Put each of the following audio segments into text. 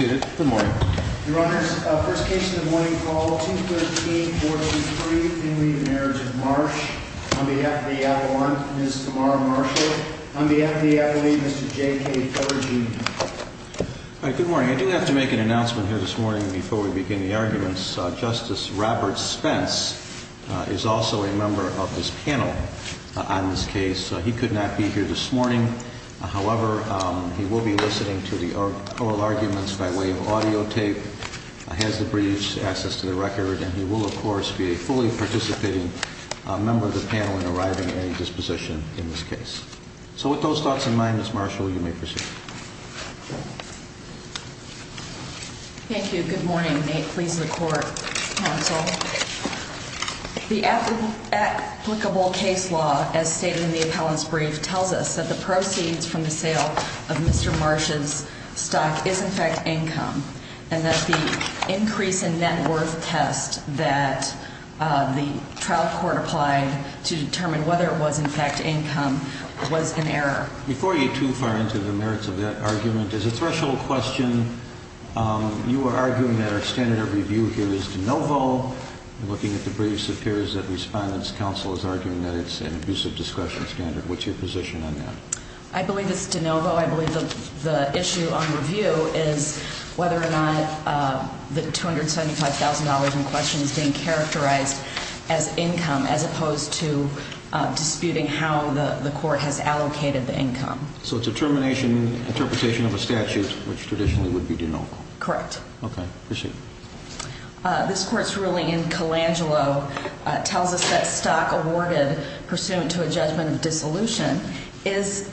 On behalf of the Avalon, Ms. Tamara Marshall. On behalf of the Avalon, Mr. J.K. Thurigy. Good morning. I do have to make an announcement here this morning before we begin the arguments. Justice Robert Spence is also a member of this panel on this case. So he could not be here this morning. However, he will be listening to the oral arguments by way of audio tape, has the briefs, access to the record. And he will, of course, be a fully participating member of the panel in arriving at a disposition in this case. So with those thoughts in mind, Ms. Marshall, you may proceed. Thank you. Good morning. Nate, please, the court counsel. The applicable case law, as stated in the appellant's brief, tells us that the proceeds from the sale of Mr. Marsh's stock is in fact income. And that the increase in net worth test that the trial court applied to determine whether it was in fact income was an error. Before you too far into the merits of that argument, as a threshold question, you are arguing that our standard of review here is de novo. Looking at the briefs, it appears that the Respondent's counsel is arguing that it's an abusive discretion standard. What's your position on that? I believe it's de novo. I believe the issue on review is whether or not the $275,000 in question is being characterized as income, as opposed to disputing how the court has allocated the income. So it's a termination, interpretation of a statute, which traditionally would be de novo. Correct. Okay. Proceed. This court's ruling in Colangelo tells us that stock awarded pursuant to a judgment of dissolution is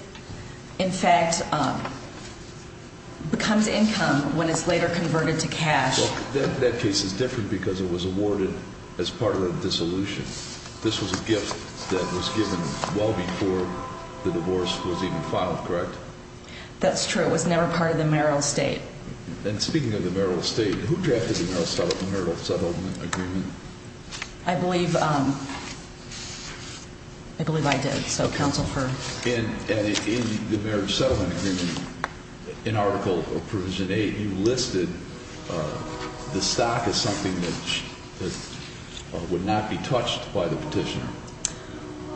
in fact becomes income when it's later converted to cash. That case is different because it was awarded as part of a dissolution. This was a gift that was given well before the divorce was even filed, correct? That's true. It was never part of the marital estate. And speaking of the marital estate, who drafted the marital settlement agreement? I believe I did, so counsel, first. And in the marriage settlement agreement, in Article Provision 8, you listed the stock as something that would not be touched by the petitioner.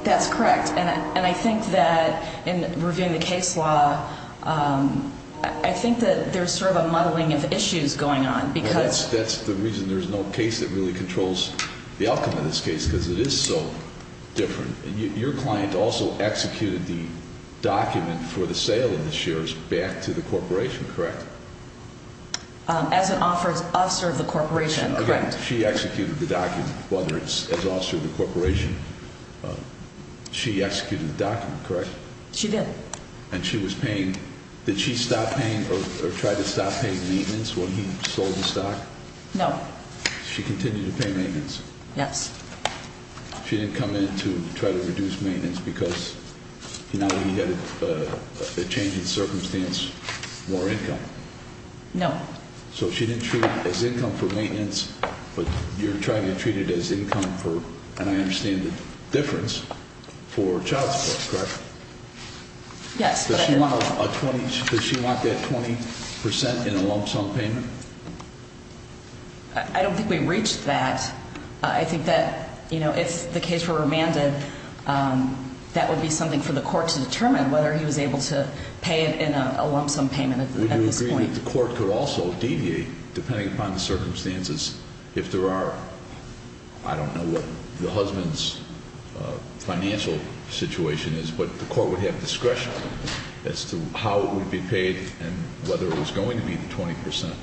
That's correct. And I think that in reviewing the case law, I think that there's sort of a muddling of issues going on. That's the reason there's no case that really controls the outcome of this case, because it is so different. Your client also executed the document for the sale of the shares back to the corporation, correct? As an officer of the corporation, correct. She executed the document, whether it's as officer of the corporation. She executed the document, correct? She did. And she was paying – did she stop paying or try to stop paying maintenance when he sold the stock? No. She continued to pay maintenance? Yes. She didn't come in to try to reduce maintenance because, you know, he had a change in circumstance, more income? No. So she didn't treat it as income for maintenance, but you're trying to treat it as income for – and I understand the difference – for child support, correct? Yes. Does she want a 20 – does she want that 20 percent in a lump sum payment? I don't think we reached that. I think that, you know, if the case were remanded, that would be something for the court to determine, whether he was able to pay it in a lump sum payment at this point. The court could also deviate, depending upon the circumstances, if there are – I don't know what the husband's financial situation is, but the court would have discretion as to how it would be paid and whether it was going to be the 20 percent.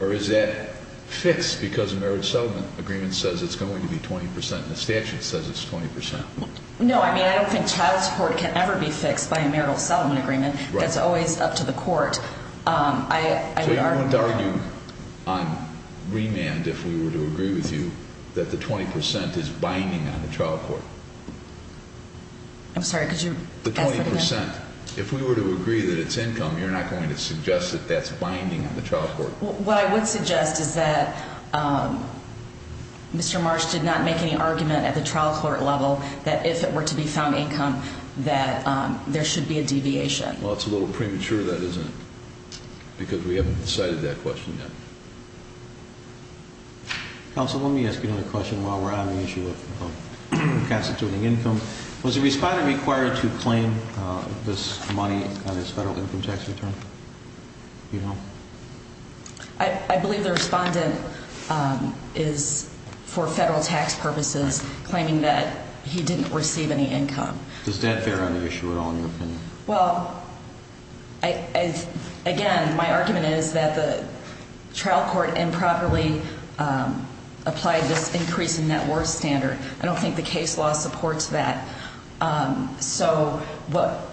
Or is that fixed because the marriage settlement agreement says it's going to be 20 percent and the statute says it's 20 percent? No, I mean, I don't think child support can ever be fixed by a marital settlement agreement. That's always up to the court. So you're going to argue on remand, if we were to agree with you, that the 20 percent is binding on the trial court? I'm sorry, could you – The 20 percent. If we were to agree that it's income, you're not going to suggest that that's binding on the trial court? What I would suggest is that Mr. Marsh did not make any argument at the trial court level that if it were to be found income, that there should be a deviation. Well, it's a little premature, that, isn't it? Because we haven't decided that question yet. Counsel, let me ask you another question while we're on the issue of constituting income. Was the respondent required to claim this money on his federal income tax return? I believe the respondent is, for federal tax purposes, claiming that he didn't receive any income. Does that bear on the issue at all in your opinion? Well, again, my argument is that the trial court improperly applied this increase in net worth standard. I don't think the case law supports that. So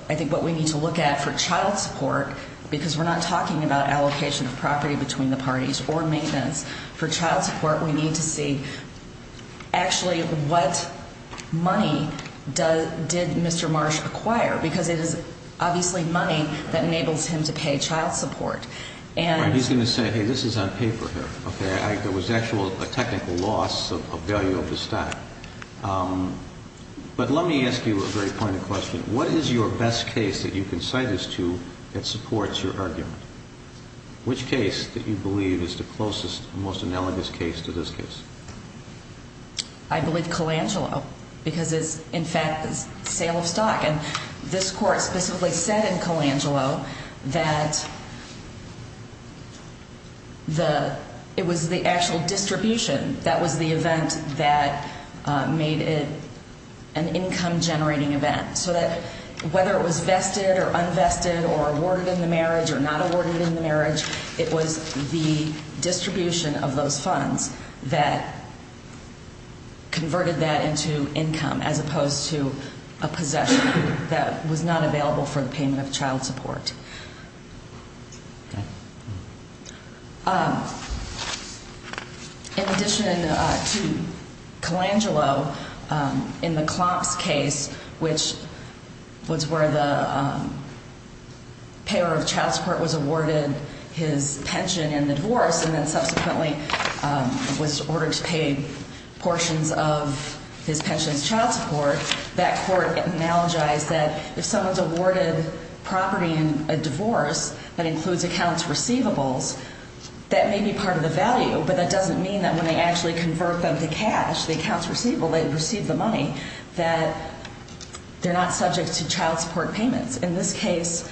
I think what we need to look at for child support, because we're not talking about allocation of property between the parties or maintenance, for child support we need to see actually what money did Mr. Marsh acquire? Because it is obviously money that enables him to pay child support. He's going to say, hey, this is on paper here. There was actually a technical loss of value of the stock. But let me ask you a very pointed question. What is your best case that you can cite this to that supports your argument? Which case that you believe is the closest, most analogous case to this case? I believe Colangelo, because it's, in fact, a sale of stock. And this court specifically said in Colangelo that it was the actual distribution that was the event that made it an income generating event. So that whether it was vested or unvested or awarded in the marriage or not awarded in the marriage, it was the distribution of those funds that converted that into income as opposed to a possession that was not available for the payment of child support. In addition to Colangelo, in the Klomp's case, which was where the payer of child support was awarded his pension in the divorce and then subsequently was ordered to pay portions of his pension as child support, that court analogized that if someone's awarded property in a divorce that includes accounts receivables, that may be part of the value, but that doesn't mean that when they actually convert them to cash, the accounts receivable, they receive the money, that they're not subject to child support payments. In this case,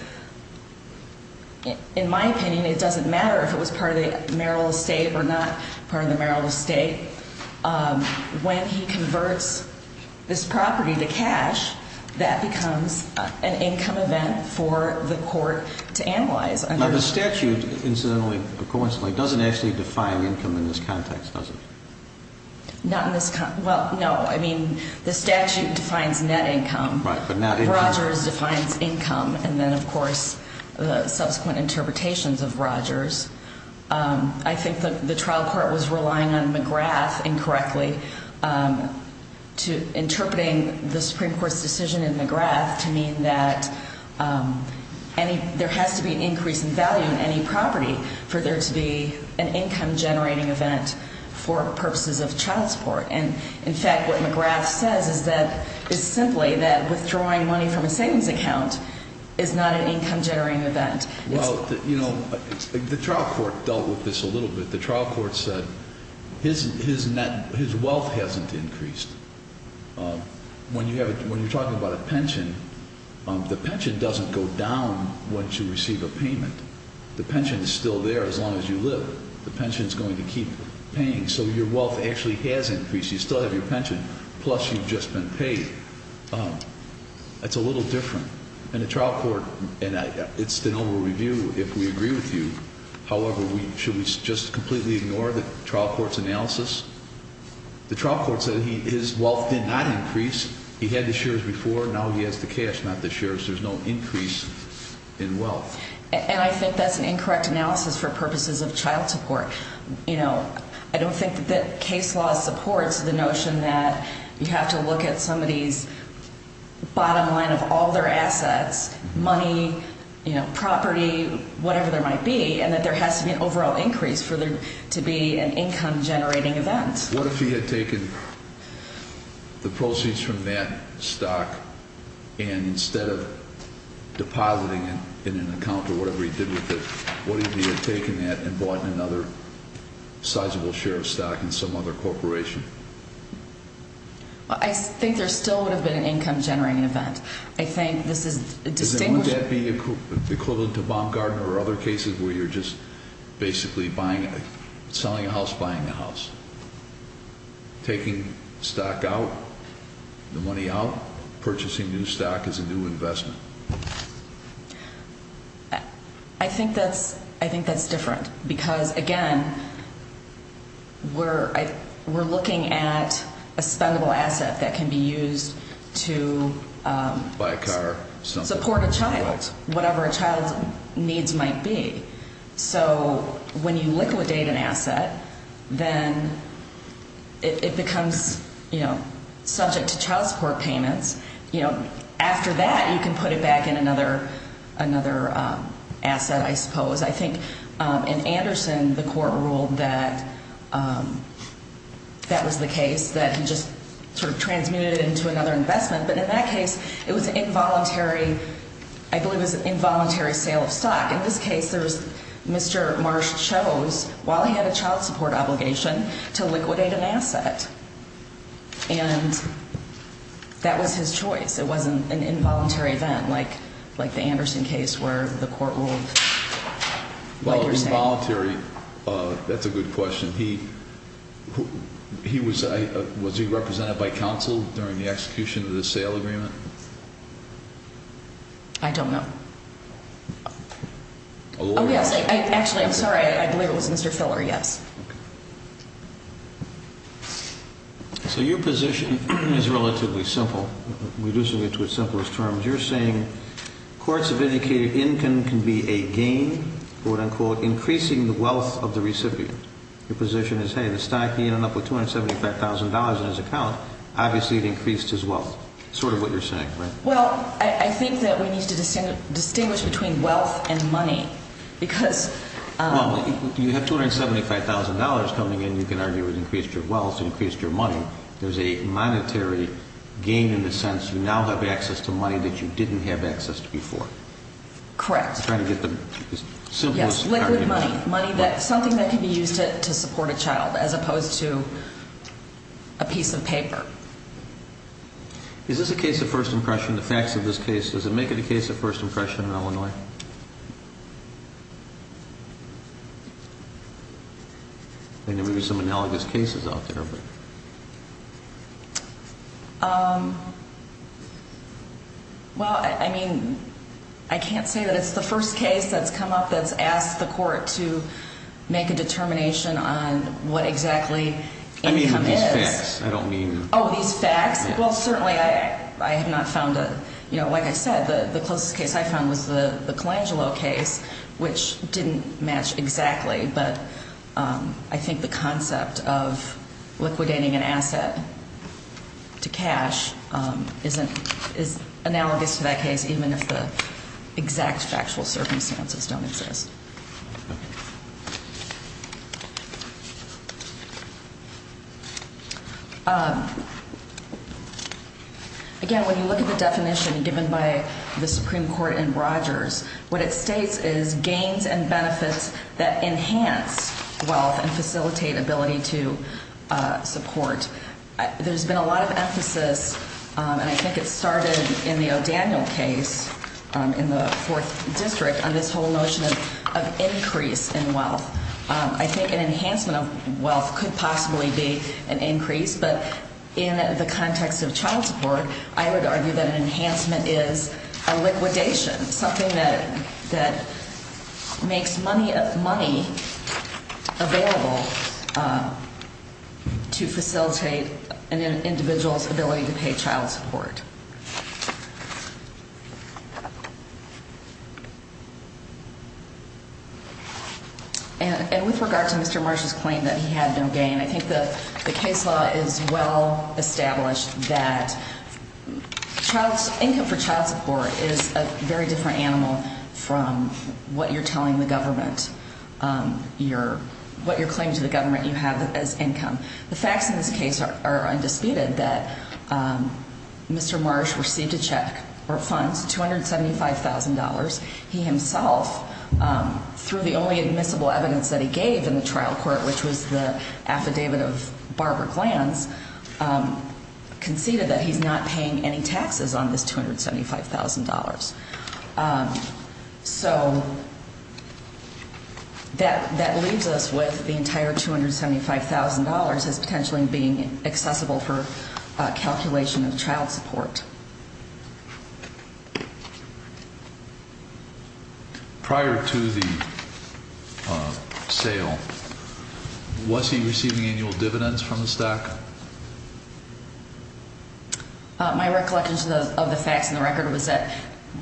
in my opinion, it doesn't matter if it was part of the marital estate or not part of the marital estate. When he converts this property to cash, that becomes an income event for the court to analyze. The statute incidentally, coincidentally, doesn't actually define income in this context, does it? Not in this context. Well, no. I mean, the statute defines net income. Right, but not income. Rogers defines income and then, of course, the subsequent interpretations of Rogers. I think the trial court was relying on McGrath incorrectly interpreting the Supreme Court's decision in McGrath to mean that there has to be an increase in value in any property for there to be an income-generating event for purposes of child support. And, in fact, what McGrath says is simply that withdrawing money from a savings account is not an income-generating event. Well, you know, the trial court dealt with this a little bit. The trial court said his wealth hasn't increased. When you're talking about a pension, the pension doesn't go down once you receive a payment. The pension is still there as long as you live. The pension is going to keep paying, so your wealth actually has increased. You still have your pension, plus you've just been paid. It's a little different. And the trial court, and it's the noble review if we agree with you, however, should we just completely ignore the trial court's analysis? The trial court said his wealth did not increase. He had the shares before. Now he has the cash, not the shares. There's no increase in wealth. And I think that's an incorrect analysis for purposes of child support. I don't think that case law supports the notion that you have to look at somebody's bottom line of all their assets, money, property, whatever there might be, and that there has to be an overall increase for there to be an income-generating event. What if he had taken the proceeds from that stock, and instead of depositing it in an account or whatever he did with it, what if he had taken that and bought another sizable share of stock in some other corporation? I think there still would have been an income-generating event. I think this is distinguishing- Does it want that to be equivalent to Baumgardner or other cases where you're just basically selling a house, buying a house? Taking stock out, the money out, purchasing new stock as a new investment. I think that's different because, again, we're looking at a spendable asset that can be used to support a child, whatever a child's needs might be. So when you liquidate an asset, then it becomes, you know, subject to child support payments. You know, after that, you can put it back in another asset, I suppose. I think in Anderson, the court ruled that that was the case, that he just sort of transmitted it into another investment. But in that case, it was an involuntary, I believe it was an involuntary sale of stock. In this case, Mr. Marsh chose, while he had a child support obligation, to liquidate an asset. And that was his choice. It wasn't an involuntary event like the Anderson case where the court ruled. Well, involuntary, that's a good question. Was he represented by counsel during the execution of the sale agreement? I don't know. Oh, yes. Actually, I'm sorry. I believe it was Mr. Filler, yes. So your position is relatively simple, reducing it to its simplest terms. You're saying courts have indicated income can be a gain, quote, unquote, increasing the wealth of the recipient. Your position is, hey, the stock ended up with $275,000 in his account. Obviously, it increased his wealth, sort of what you're saying, right? Well, I think that we need to distinguish between wealth and money because- Well, you have $275,000 coming in, you can argue it increased your wealth, increased your money. There's a monetary gain in the sense you now have access to money that you didn't have access to before. Correct. Trying to get the simplest argument. Something that can be used to support a child as opposed to a piece of paper. Is this a case of first impression, the facts of this case? Does it make it a case of first impression in Illinois? There may be some analogous cases out there. Well, I mean, I can't say that it's the first case that's come up that's asked the court to make a determination on what exactly income is. I mean with these facts, I don't mean- Oh, these facts? Well, certainly, I have not found a- Like I said, the closest case I found was the Colangelo case, which didn't match exactly. But I think the concept of liquidating an asset to cash is analogous to that case, even if the exact factual circumstances don't exist. Again, when you look at the definition given by the Supreme Court in Rogers, what it states is gains and benefits that enhance wealth and facilitate ability to support. There's been a lot of emphasis, and I think it started in the O'Daniel case in the 4th District, on this whole notion of increase in wealth. I think an enhancement of wealth could possibly be an increase. But in the context of child support, I would argue that an enhancement is a liquidation, something that makes money available to facilitate an individual's ability to pay child support. And with regard to Mr. Marsh's claim that he had no gain, I think the case law is well established that income for child support is a very different animal from what you're telling the government, what you're claiming to the government you have as income. The facts in this case are undisputed that Mr. Marsh received a check or funds, $275,000. He himself, through the only admissible evidence that he gave in the trial court, which was the affidavit of Barbara Glantz, conceded that he's not paying any taxes on this $275,000. So that leaves us with the entire $275,000 as potentially being accessible for calculation of child support. Prior to the sale, was he receiving annual dividends from the stock? My recollection of the facts in the record was that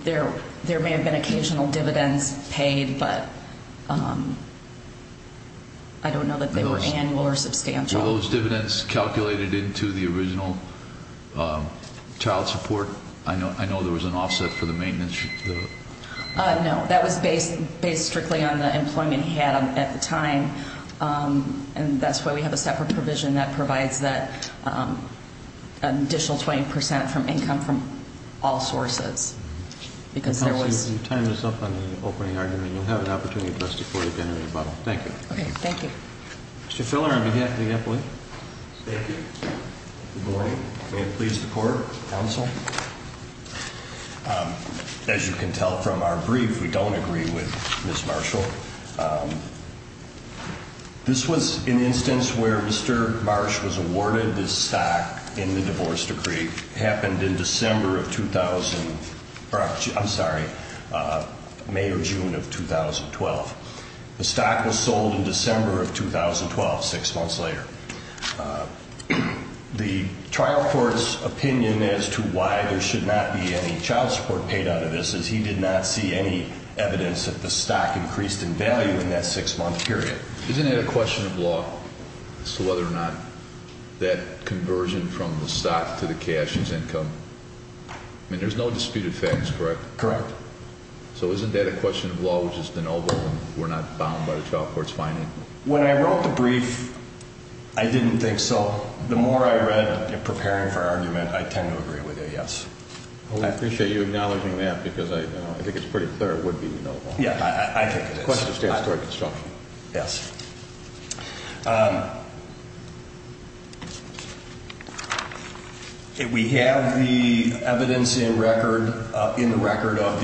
there may have been occasional dividends paid, but I don't know that they were annual or substantial. Are those dividends calculated into the original child support? I know there was an offset for the maintenance. No, that was based strictly on the employment he had at the time. And that's why we have a separate provision that provides that additional 20% from income from all sources. Counsel, you timed us up on the opening argument. You'll have an opportunity to address the court again in rebuttal. Thank you. Okay, thank you. Mr. Filner on behalf of the employee. Thank you. Good morning. May it please the court, counsel. As you can tell from our brief, we don't agree with Ms. Marshall. This was an instance where Mr. Marsh was awarded this stock in the divorce decree. It happened in May or June of 2012. The stock was sold in December of 2012, six months later. The trial court's opinion as to why there should not be any child support paid out of this is he did not see any evidence that the stock increased in value in that six-month period. Isn't that a question of law as to whether or not that conversion from the stock to the cash is income? I mean, there's no disputed facts, correct? Correct. So isn't that a question of law, which is de novo, and we're not bound by the trial court's finding? When I wrote the brief, I didn't think so. The more I read it preparing for argument, I tend to agree with it, yes. I appreciate you acknowledging that because I think it's pretty clear it would be de novo. Yeah, I think it is. It's a question of statutory construction. Yes. We have the evidence in record of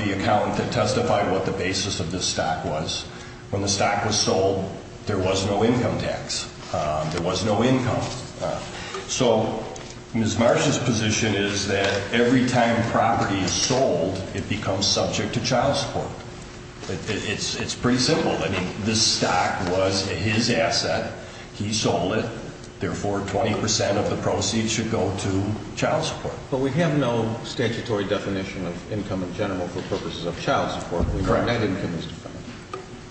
the account that testified what the basis of this stock was. When the stock was sold, there was no income tax. There was no income. So Ms. Marsh's position is that every time property is sold, it becomes subject to child support. It's pretty simple. I mean, this stock was his asset. He sold it. Therefore, 20% of the proceeds should go to child support. But we have no statutory definition of income in general for purposes of child support. Correct.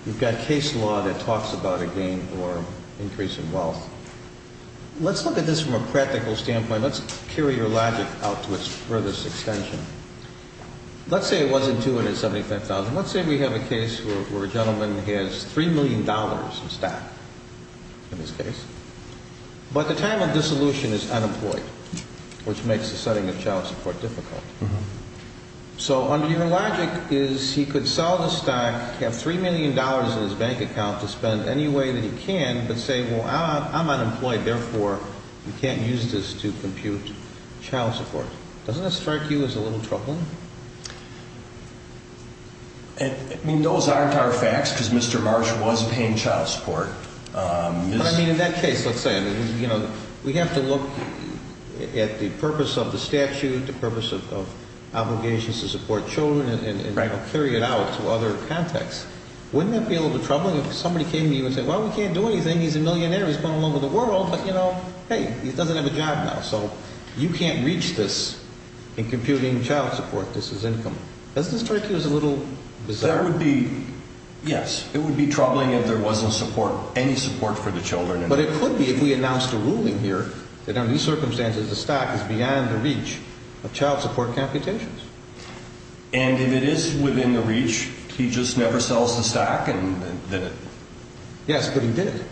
You've got case law that talks about a gain or increase in wealth. Let's look at this from a practical standpoint. Let's carry your logic out to its furthest extension. Let's say it wasn't $275,000. Let's say we have a case where a gentleman has $3 million in stock in this case. But the time of dissolution is unemployed, which makes the setting of child support difficult. So under your logic is he could sell the stock, have $3 million in his bank account to spend any way that he can, but say, well, I'm unemployed. Therefore, you can't use this to compute child support. Doesn't that strike you as a little troubling? I mean, those aren't our facts because Mr. Marsh was paying child support. I mean, in that case, let's say we have to look at the purpose of the statute, the purpose of obligations to support children, and carry it out to other contexts. Wouldn't that be a little troubling if somebody came to you and said, well, we can't do anything. He's a millionaire. He's going all over the world. But, you know, hey, he doesn't have a job now. So you can't reach this in computing child support. This is income. Doesn't this strike you as a little bizarre? Yes, it would be troubling if there wasn't any support for the children. But it could be if we announced a ruling here that under these circumstances, the stock is beyond the reach of child support computations. And if it is within the reach, he just never sells the stock? Yes, but he did it.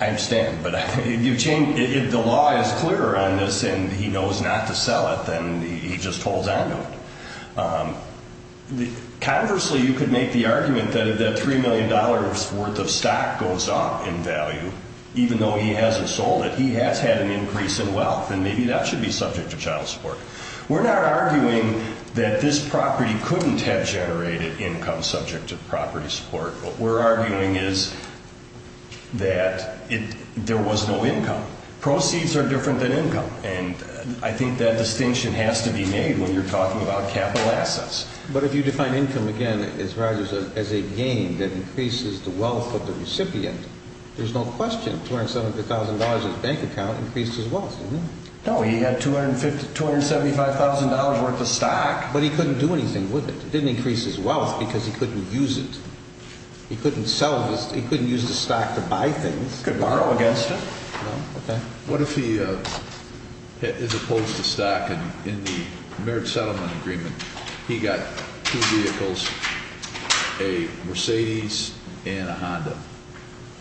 I understand, but if the law is clear on this and he knows not to sell it, then he just holds on to it. Conversely, you could make the argument that if that $3 million worth of stock goes up in value, even though he hasn't sold it, he has had an increase in wealth, and maybe that should be subject to child support. We're not arguing that this property couldn't have generated income subject to property support. What we're arguing is that there was no income. Proceeds are different than income. And I think that distinction has to be made when you're talking about capital assets. But if you define income, again, as a gain that increases the wealth of the recipient, there's no question $270,000 of his bank account increased his wealth. No, he had $275,000 worth of stock. But he couldn't do anything with it. It didn't increase his wealth because he couldn't use it. He couldn't sell it. He couldn't use the stock to buy things. He couldn't borrow against it. No. Okay. What if he is opposed to stock? In the marriage settlement agreement, he got two vehicles, a Mercedes and a Honda,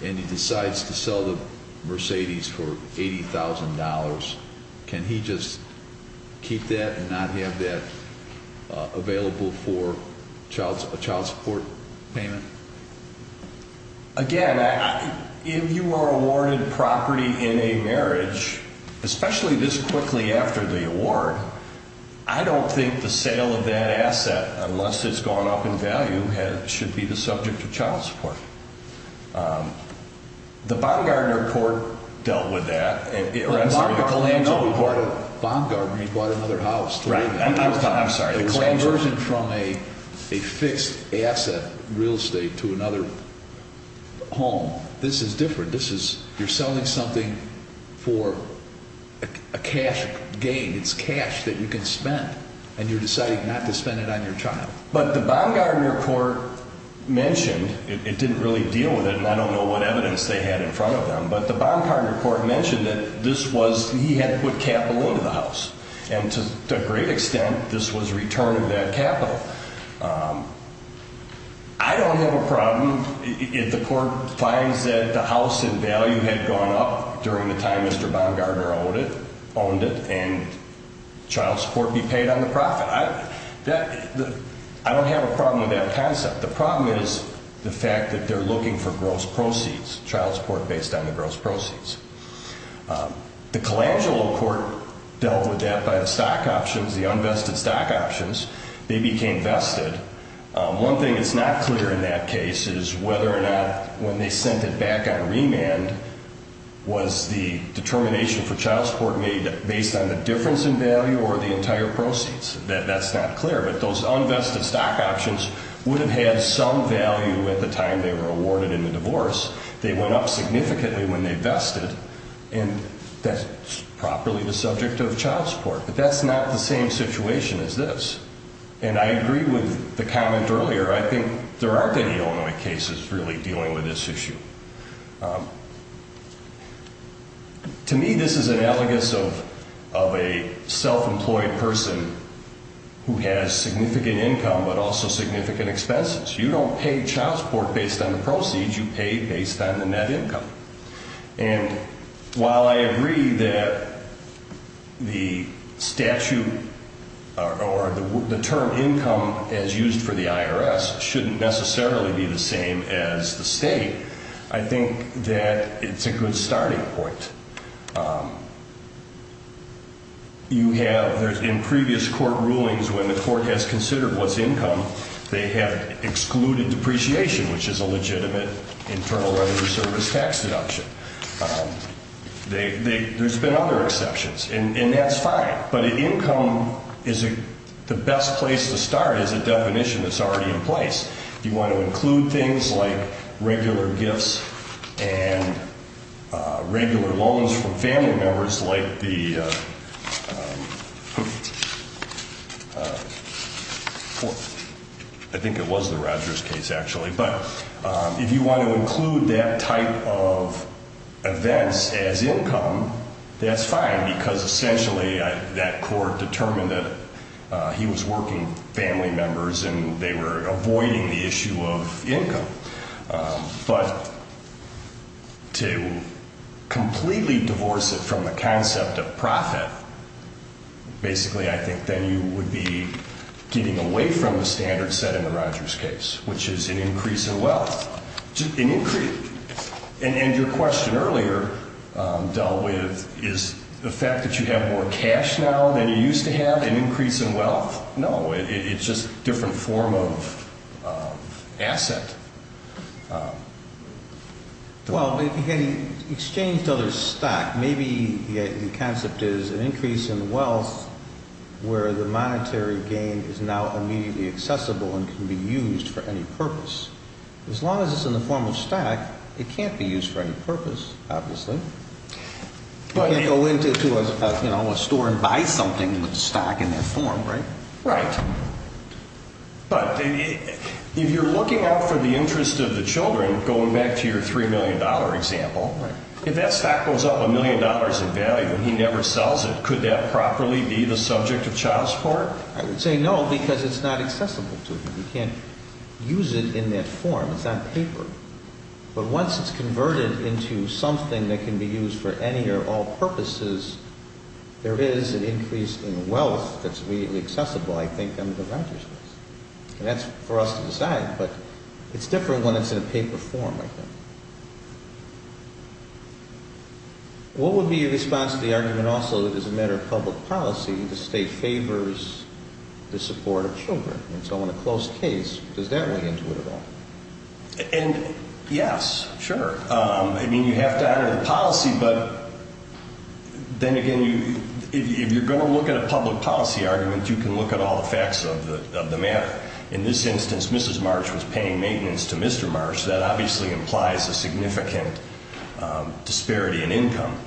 and he decides to sell the Mercedes for $80,000. Can he just keep that and not have that available for a child support payment? Again, if you are awarded property in a marriage, especially this quickly after the award, I don't think the sale of that asset, unless it's gone up in value, should be the subject of child support. The Baumgartner report dealt with that. The Baumgartner report? Baumgartner means bought another house. I'm sorry. Conversion from a fixed asset real estate to another home. This is different. You're selling something for a cash gain. It's cash that you can spend, and you're deciding not to spend it on your child. But the Baumgartner report mentioned, it didn't really deal with it, and I don't know what evidence they had in front of them, but the Baumgartner report mentioned that he had put capital into the house. And to a great extent, this was return of that capital. I don't have a problem if the court finds that the house in value had gone up during the time Mr. Baumgartner owned it and child support be paid on the profit. I don't have a problem with that concept. The problem is the fact that they're looking for gross proceeds, child support based on the gross proceeds. The Colangelo court dealt with that by the stock options, the unvested stock options. They became vested. One thing that's not clear in that case is whether or not when they sent it back on remand, was the determination for child support made based on the difference in value or the entire proceeds. That's not clear. But those unvested stock options would have had some value at the time they were awarded in the divorce. They went up significantly when they vested, and that's properly the subject of child support. But that's not the same situation as this. And I agree with the comment earlier. I think there aren't any Illinois cases really dealing with this issue. To me, this is an elegance of a self-employed person who has significant income but also significant expenses. You don't pay child support based on the proceeds. You pay based on the net income. And while I agree that the statute or the term income as used for the IRS shouldn't necessarily be the same as the state, I think that it's a good starting point. You have in previous court rulings when the court has considered what's income, they have excluded depreciation, which is a legitimate internal revenue service tax deduction. There's been other exceptions, and that's fine. But income is the best place to start as a definition that's already in place. If you want to include things like regular gifts and regular loans from family members like the – I think it was the Rogers case, actually. But if you want to include that type of events as income, that's fine, because essentially that court determined that he was working family members and they were avoiding the issue of income. But to completely divorce it from the concept of profit, basically I think then you would be getting away from the standard set in the Rogers case, which is an increase in wealth, an increase. And your question earlier dealt with is the fact that you have more cash now than you used to have an increase in wealth? No, it's just a different form of asset. Well, if you had exchanged other stock, maybe the concept is an increase in wealth where the monetary gain is now immediately accessible and can be used for any purpose. As long as it's in the form of stock, it can't be used for any purpose, obviously. You can't go into a store and buy something with the stock in that form, right? Right. But if you're looking out for the interest of the children, going back to your $3 million example, if that stock goes up $1 million in value and he never sells it, could that properly be the subject of child support? I would say no, because it's not accessible to them. You can't use it in that form. It's not paper. But once it's converted into something that can be used for any or all purposes, there is an increase in wealth that's immediately accessible, I think, under the Rogers case. And that's for us to decide, but it's different when it's in a paper form, I think. What would be your response to the argument also that as a matter of public policy, the state favors the support of children? And so in a closed case, does that weigh into it at all? Yes, sure. I mean, you have to honor the policy, but then again, if you're going to look at a public policy argument, you can look at all the facts of the matter. In this instance, Mrs. Marsh was paying maintenance to Mr. Marsh. That obviously implies a significant disparity in income.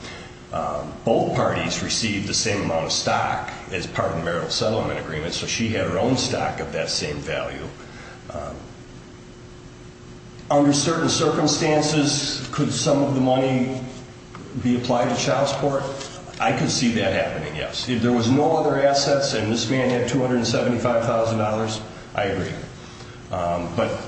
Both parties received the same amount of stock as part of the marital settlement agreement, so she had her own stock of that same value. Under certain circumstances, could some of the money be applied to child support? I could see that happening, yes. If there was no other assets and this man had $275,000, I agree. But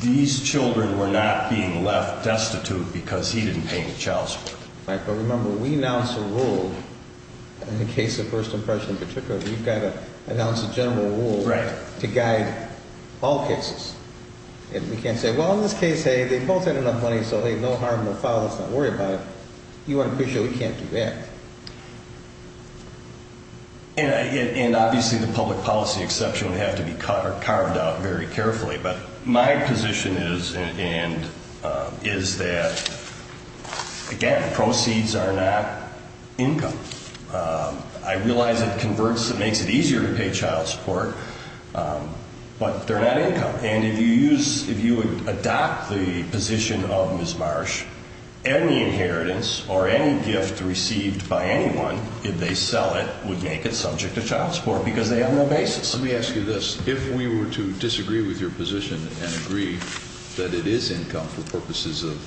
these children were not being left destitute because he didn't pay any child support. Right, but remember, we announce a rule in the case of first impression in particular, we've got to announce a general rule to guide all cases. And we can't say, well, in this case, hey, they both had enough money, so hey, no harm, no foul, let's not worry about it. You unofficially can't do that. And obviously the public policy exception would have to be cut or carved out very carefully. But my position is that, again, proceeds are not income. I realize it converts, it makes it easier to pay child support, but they're not income. And if you adopt the position of Ms. Marsh, any inheritance or any gift received by anyone, if they sell it, would make it subject to child support because they have no basis. Let me ask you this. If we were to disagree with your position and agree that it is income for purposes of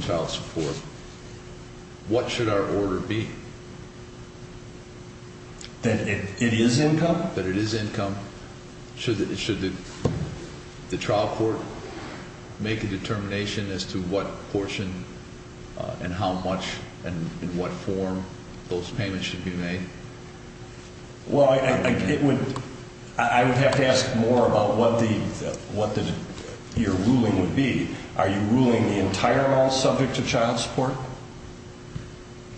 child support, what should our order be? That it is income? That it is income. Should the trial court make a determination as to what portion and how much and in what form those payments should be made? Well, I would have to ask more about what your ruling would be. Are you ruling the entire mall subject to child support?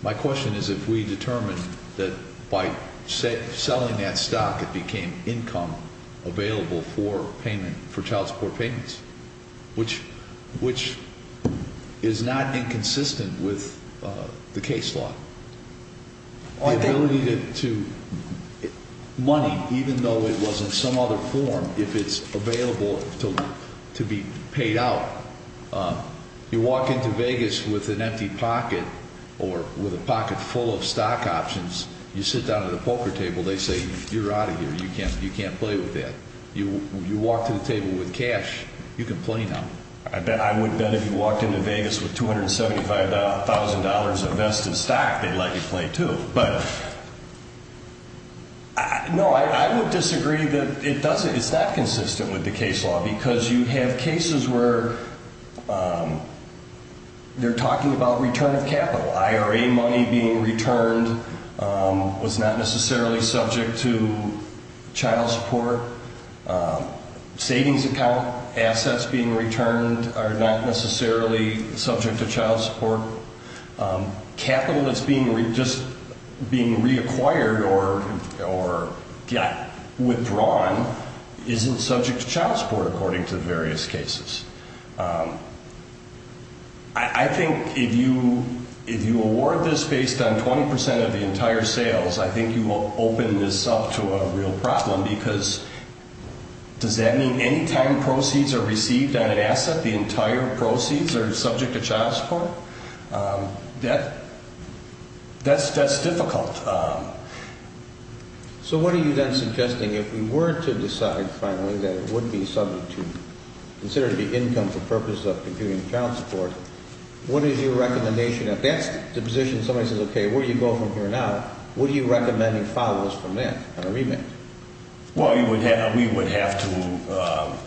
My question is if we determine that by selling that stock it became income available for payment, for child support payments, which is not inconsistent with the case law. The ability to, money, even though it was in some other form, if it's available to be paid out. You walk into Vegas with an empty pocket or with a pocket full of stock options, you sit down at a poker table, they say, you're out of here, you can't play with that. You walk to the table with cash, you can play now. I bet, I would bet if you walked into Vegas with $275,000 of vested stock, they'd let you play too. But, no, I would disagree that it doesn't, it's not consistent with the case law because you have cases where they're talking about return of capital. IRA money being returned was not necessarily subject to child support. Savings account assets being returned are not necessarily subject to child support. Capital that's being, just being reacquired or withdrawn isn't subject to child support according to the various cases. I think if you, if you award this based on 20% of the entire sales, I think you will open this up to a real problem because does that mean any time proceeds are received on an asset, the entire proceeds are subject to child support? That, that's difficult. So what are you then suggesting if we were to decide finally that it would be subject to, considered to be income for purposes of computing child support, what is your recommendation, if that's the position somebody says, okay, where do you go from here now, what are you recommending follows from that on a remit? Well, you would have, we would have to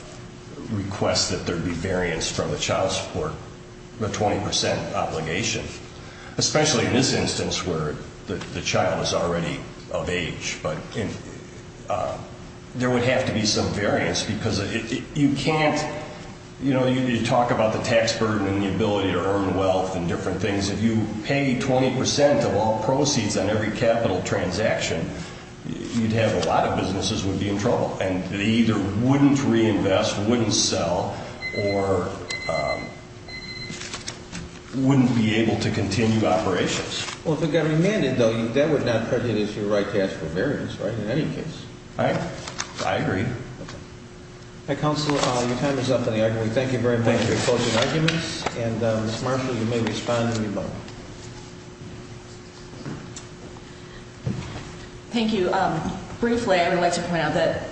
request that there be variance from the child support, the 20% obligation, especially in this instance where the child is already of age. But there would have to be some variance because you can't, you know, you talk about the tax burden and the ability to earn wealth and different things. If you pay 20% of all proceeds on every capital transaction, you'd have a lot of businesses would be in trouble. And they either wouldn't reinvest, wouldn't sell, or wouldn't be able to continue operations. Well, if it got remanded though, that would not prejudice your right to ask for variance, right, in any case. I agree. Okay. Counselor, your time is up on the argument. Thank you very much for your closing arguments. And Ms. Marshall, you may respond when you vote. Thank you. Briefly, I would like to point out that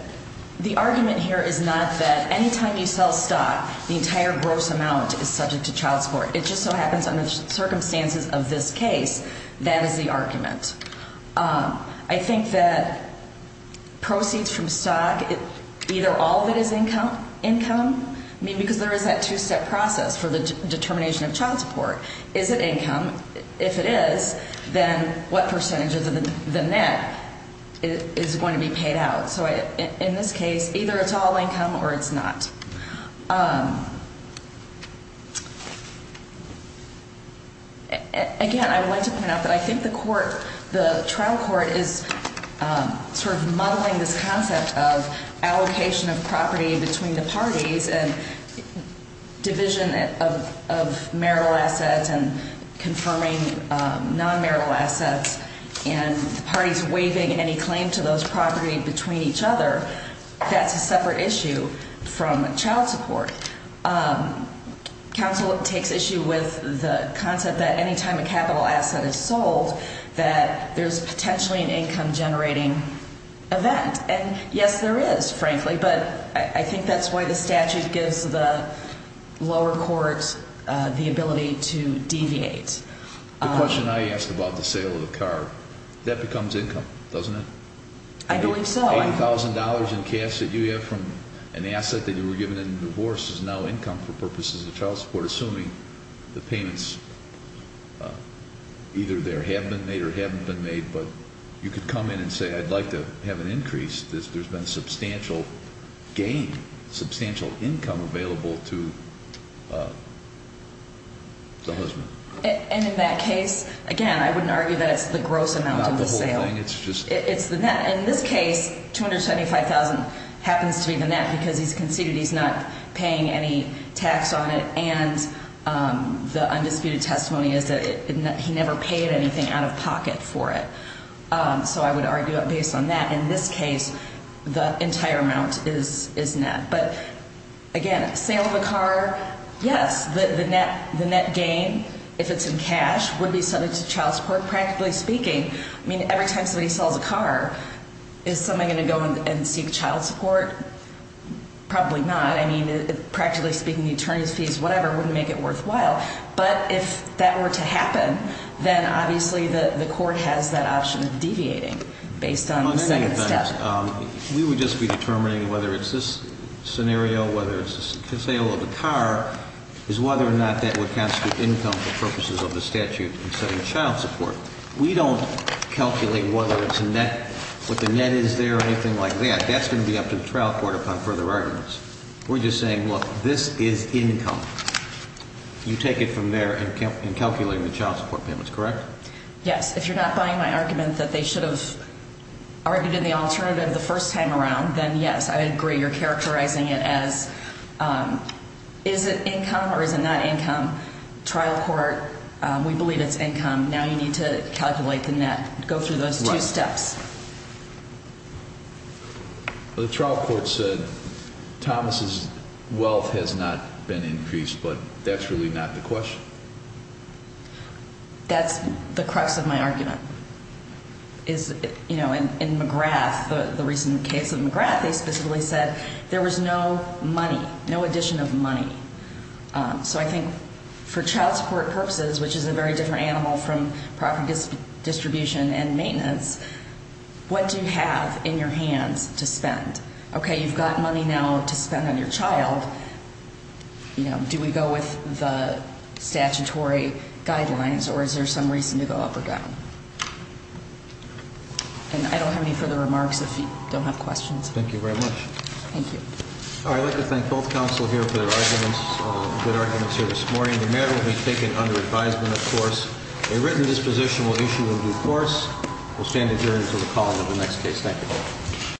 the argument here is not that any time you sell stock, the entire gross amount is subject to child support. It just so happens under the circumstances of this case, that is the argument. I think that proceeds from stock, either all of it is income, I mean, because there is that two-step process for the determination of child support. Is it income? If it is, then what percentage of the net is going to be paid out? So in this case, either it's all income or it's not. Again, I would like to point out that I think the court, the trial court, is sort of muddling this concept of allocation of property between the parties and division of marital assets and confirming non-marital assets and parties waiving any claim to those property between each other. That's a separate issue from child support. Counsel takes issue with the concept that any time a capital asset is sold, that there's potentially an income-generating event. And yes, there is, frankly, but I think that's why the statute gives the lower courts the ability to deviate. The question I ask about the sale of the car, that becomes income, doesn't it? I believe so. $80,000 in cash that you have from an asset that you were given in divorce is now income for purposes of child support, assuming the payments either there have been made or haven't been made. But you could come in and say, I'd like to have an increase. There's been substantial gain, substantial income available to the husband. And in that case, again, I wouldn't argue that it's the gross amount of the sale. It's not the whole thing. It's the net. And in this case, $275,000 happens to be the net because he's conceded he's not paying any tax on it. And the undisputed testimony is that he never paid anything out of pocket for it. So I would argue that based on that, in this case, the entire amount is net. But again, sale of a car, yes, the net gain, if it's in cash, would be subject to child support, practically speaking. I mean, every time somebody sells a car, is somebody going to go and seek child support? Probably not. I mean, practically speaking, the attorney's fees, whatever, wouldn't make it worthwhile. But if that were to happen, then obviously the court has that option of deviating based on the second step. We would just be determining whether it's this scenario, whether it's the sale of a car, is whether or not that would constitute income for purposes of the statute in setting child support. We don't calculate whether it's net, what the net is there or anything like that. That's going to be up to the trial court upon further arguments. We're just saying, look, this is income. You take it from there and calculate the child support payments, correct? Yes. If you're not buying my argument that they should have argued in the alternative the first time around, then yes, I agree. You're characterizing it as is it income or is it not income? Trial court, we believe it's income. Now you need to calculate the net, go through those two steps. The trial court said Thomas's wealth has not been increased, but that's really not the question. That's the crux of my argument. In McGrath, the recent case of McGrath, they specifically said there was no money, no addition of money. So I think for child support purposes, which is a very different animal from property distribution and maintenance, what do you have in your hands to spend? Okay, you've got money now to spend on your child. Do we go with the statutory guidelines or is there some reason to go up or down? And I don't have any further remarks if you don't have questions. Thank you very much. Thank you. I'd like to thank both counsel here for their arguments, good arguments here this morning. The matter will be taken under advisement, of course. A written disposition will issue in due course. We'll stand adjourned until the call of the next case. Thank you.